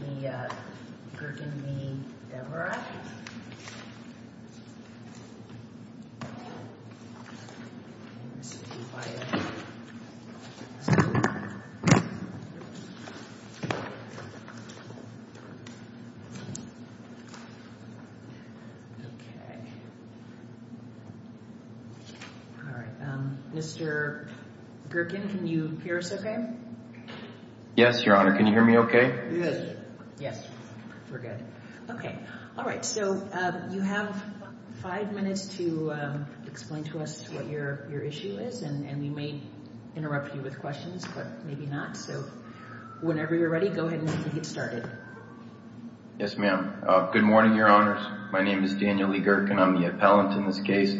v. Gorken v. Devereux Mr. Gorken, can you hear us okay? Yes, Your Honor. Can you hear me okay? Yes. We're good. Okay. All right. So you have five minutes to explain to us what your issue is, and we may interrupt you with questions, but maybe not. So whenever you're ready, go ahead and get started. Yes, ma'am. Good morning, Your Honors. My name is Daniel E. Gorken. I'm the appellant in this case.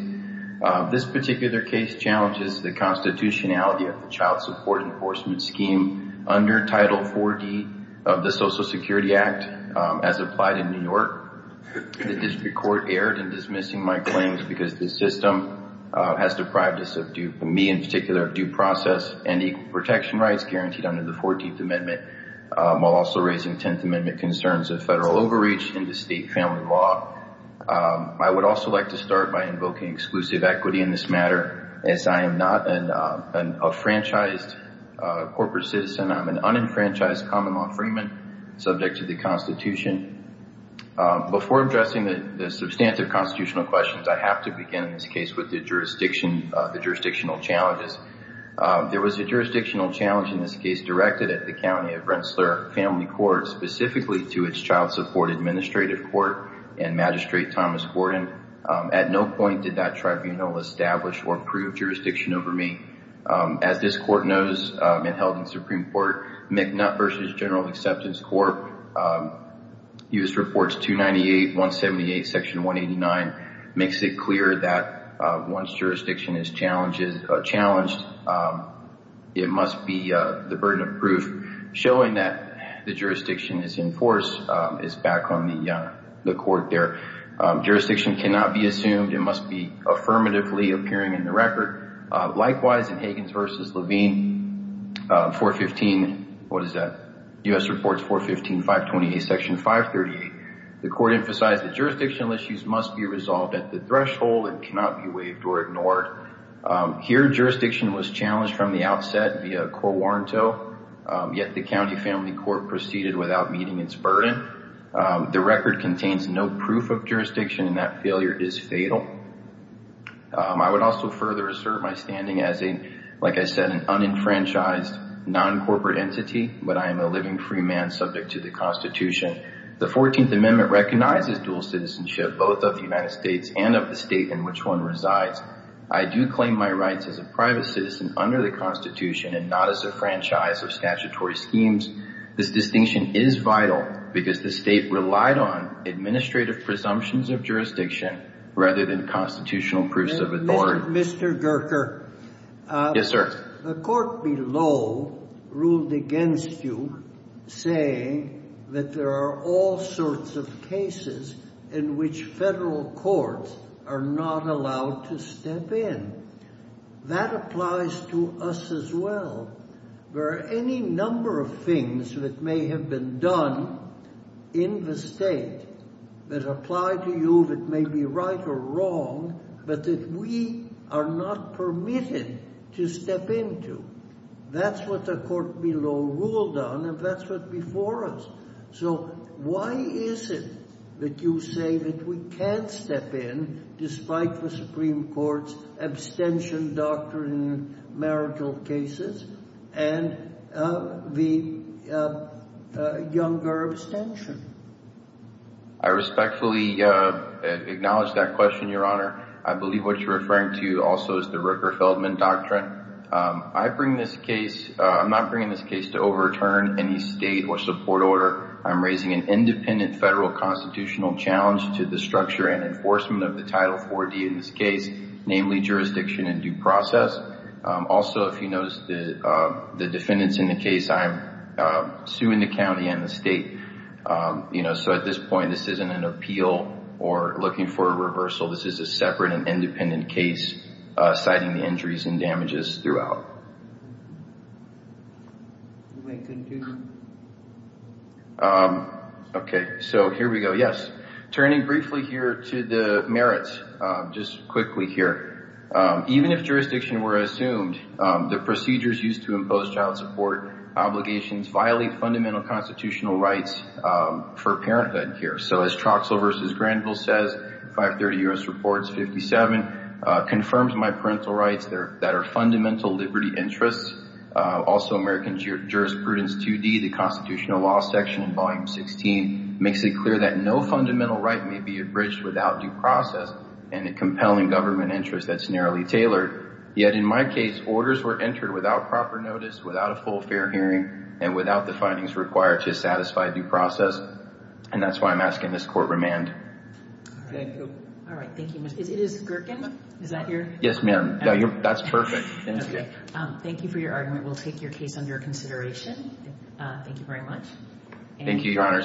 This particular case challenges the constitutionality of the Child Support Enforcement Scheme under Title IV-D of the Social Security Act as applied in New York. The district court erred in dismissing my claims because the system has deprived me in particular of due process and equal protection rights guaranteed under the 14th Amendment while also raising 10th Amendment concerns of federal overreach into state family law. I would also like to start by invoking exclusive equity in this matter, as I am not a franchised corporate citizen. I'm an unenfranchised common law freeman subject to the Constitution. Before addressing the substantive constitutional questions, I have to begin in this case with the jurisdictional challenges. There was a jurisdictional challenge in this case directed at the County of Rensselaer Family Court, specifically to its Child Support Administrative Court and Magistrate Thomas Gordon. At no point did that tribunal establish or approve jurisdiction over me. As this court knows and held in Supreme Court, McNutt v. General Acceptance Court, U.S. Reports 298, 178, Section 189, makes it clear that once jurisdiction is challenged, it must be the burden of proof, showing that the jurisdiction is in force. It's back on the court there. Jurisdiction cannot be assumed. It must be affirmatively appearing in the record. Likewise, in Higgins v. Levine, 415, what is that? U.S. Reports 415, 528, Section 538, the court emphasized that jurisdictional issues must be resolved at the threshold and cannot be waived or ignored. Here, jurisdiction was challenged from the outset via a court warrant, yet the County Family Court proceeded without meeting its burden. The record contains no proof of jurisdiction, and that failure is fatal. I would also further assert my standing as, like I said, an unenfranchised, non-corporate entity, but I am a living free man subject to the Constitution. The 14th Amendment recognizes dual citizenship, both of the United States and of the state in which one resides. I do claim my rights as a private citizen under the Constitution and not as a franchise of statutory schemes. This distinction is vital because the state relied on administrative presumptions of jurisdiction rather than constitutional proofs of authority. Mr. Gerker. Yes, sir. The court below ruled against you, saying that there are all sorts of cases in which federal courts are not allowed to step in. That applies to us as well. There are any number of things that may have been done in the state that apply to you that may be right or wrong, but that we are not permitted to step into. That's what the court below ruled on, and that's what's before us. So why is it that you say that we can't step in, despite the Supreme Court's abstention doctrine in marital cases and the Younger abstention? I respectfully acknowledge that question, Your Honor. I believe what you're referring to also is the Ricker-Feldman doctrine. I'm not bringing this case to overturn any state or support order. I'm raising an independent federal constitutional challenge to the structure and enforcement of the Title IV-D in this case, namely jurisdiction and due process. Also, if you notice the defendants in the case, I'm suing the county and the state. So at this point, this isn't an appeal or looking for a reversal. This is a separate and independent case, citing the injuries and damages throughout. Okay, so here we go. Yes, turning briefly here to the merits, just quickly here. Even if jurisdiction were assumed, the procedures used to impose child support obligations violate fundamental constitutional rights for parenthood here. So as Troxell v. Granville says, 530 U.S. Reports 57, confirms my parental rights that are fundamental liberty interests. Also, American Jurisprudence 2D, the constitutional law section in Volume 16, makes it clear that no fundamental right may be abridged without due process and a compelling government interest that's narrowly tailored. Yet in my case, orders were entered without proper notice, without a full fair hearing, and without the findings required to satisfy due process. And that's why I'm asking this court remand. Thank you. All right, thank you. Is it Gherkin? Is that your? Yes, ma'am. That's perfect. Thank you for your argument. We'll take your case under consideration. Thank you very much. Thank you, Your Honors.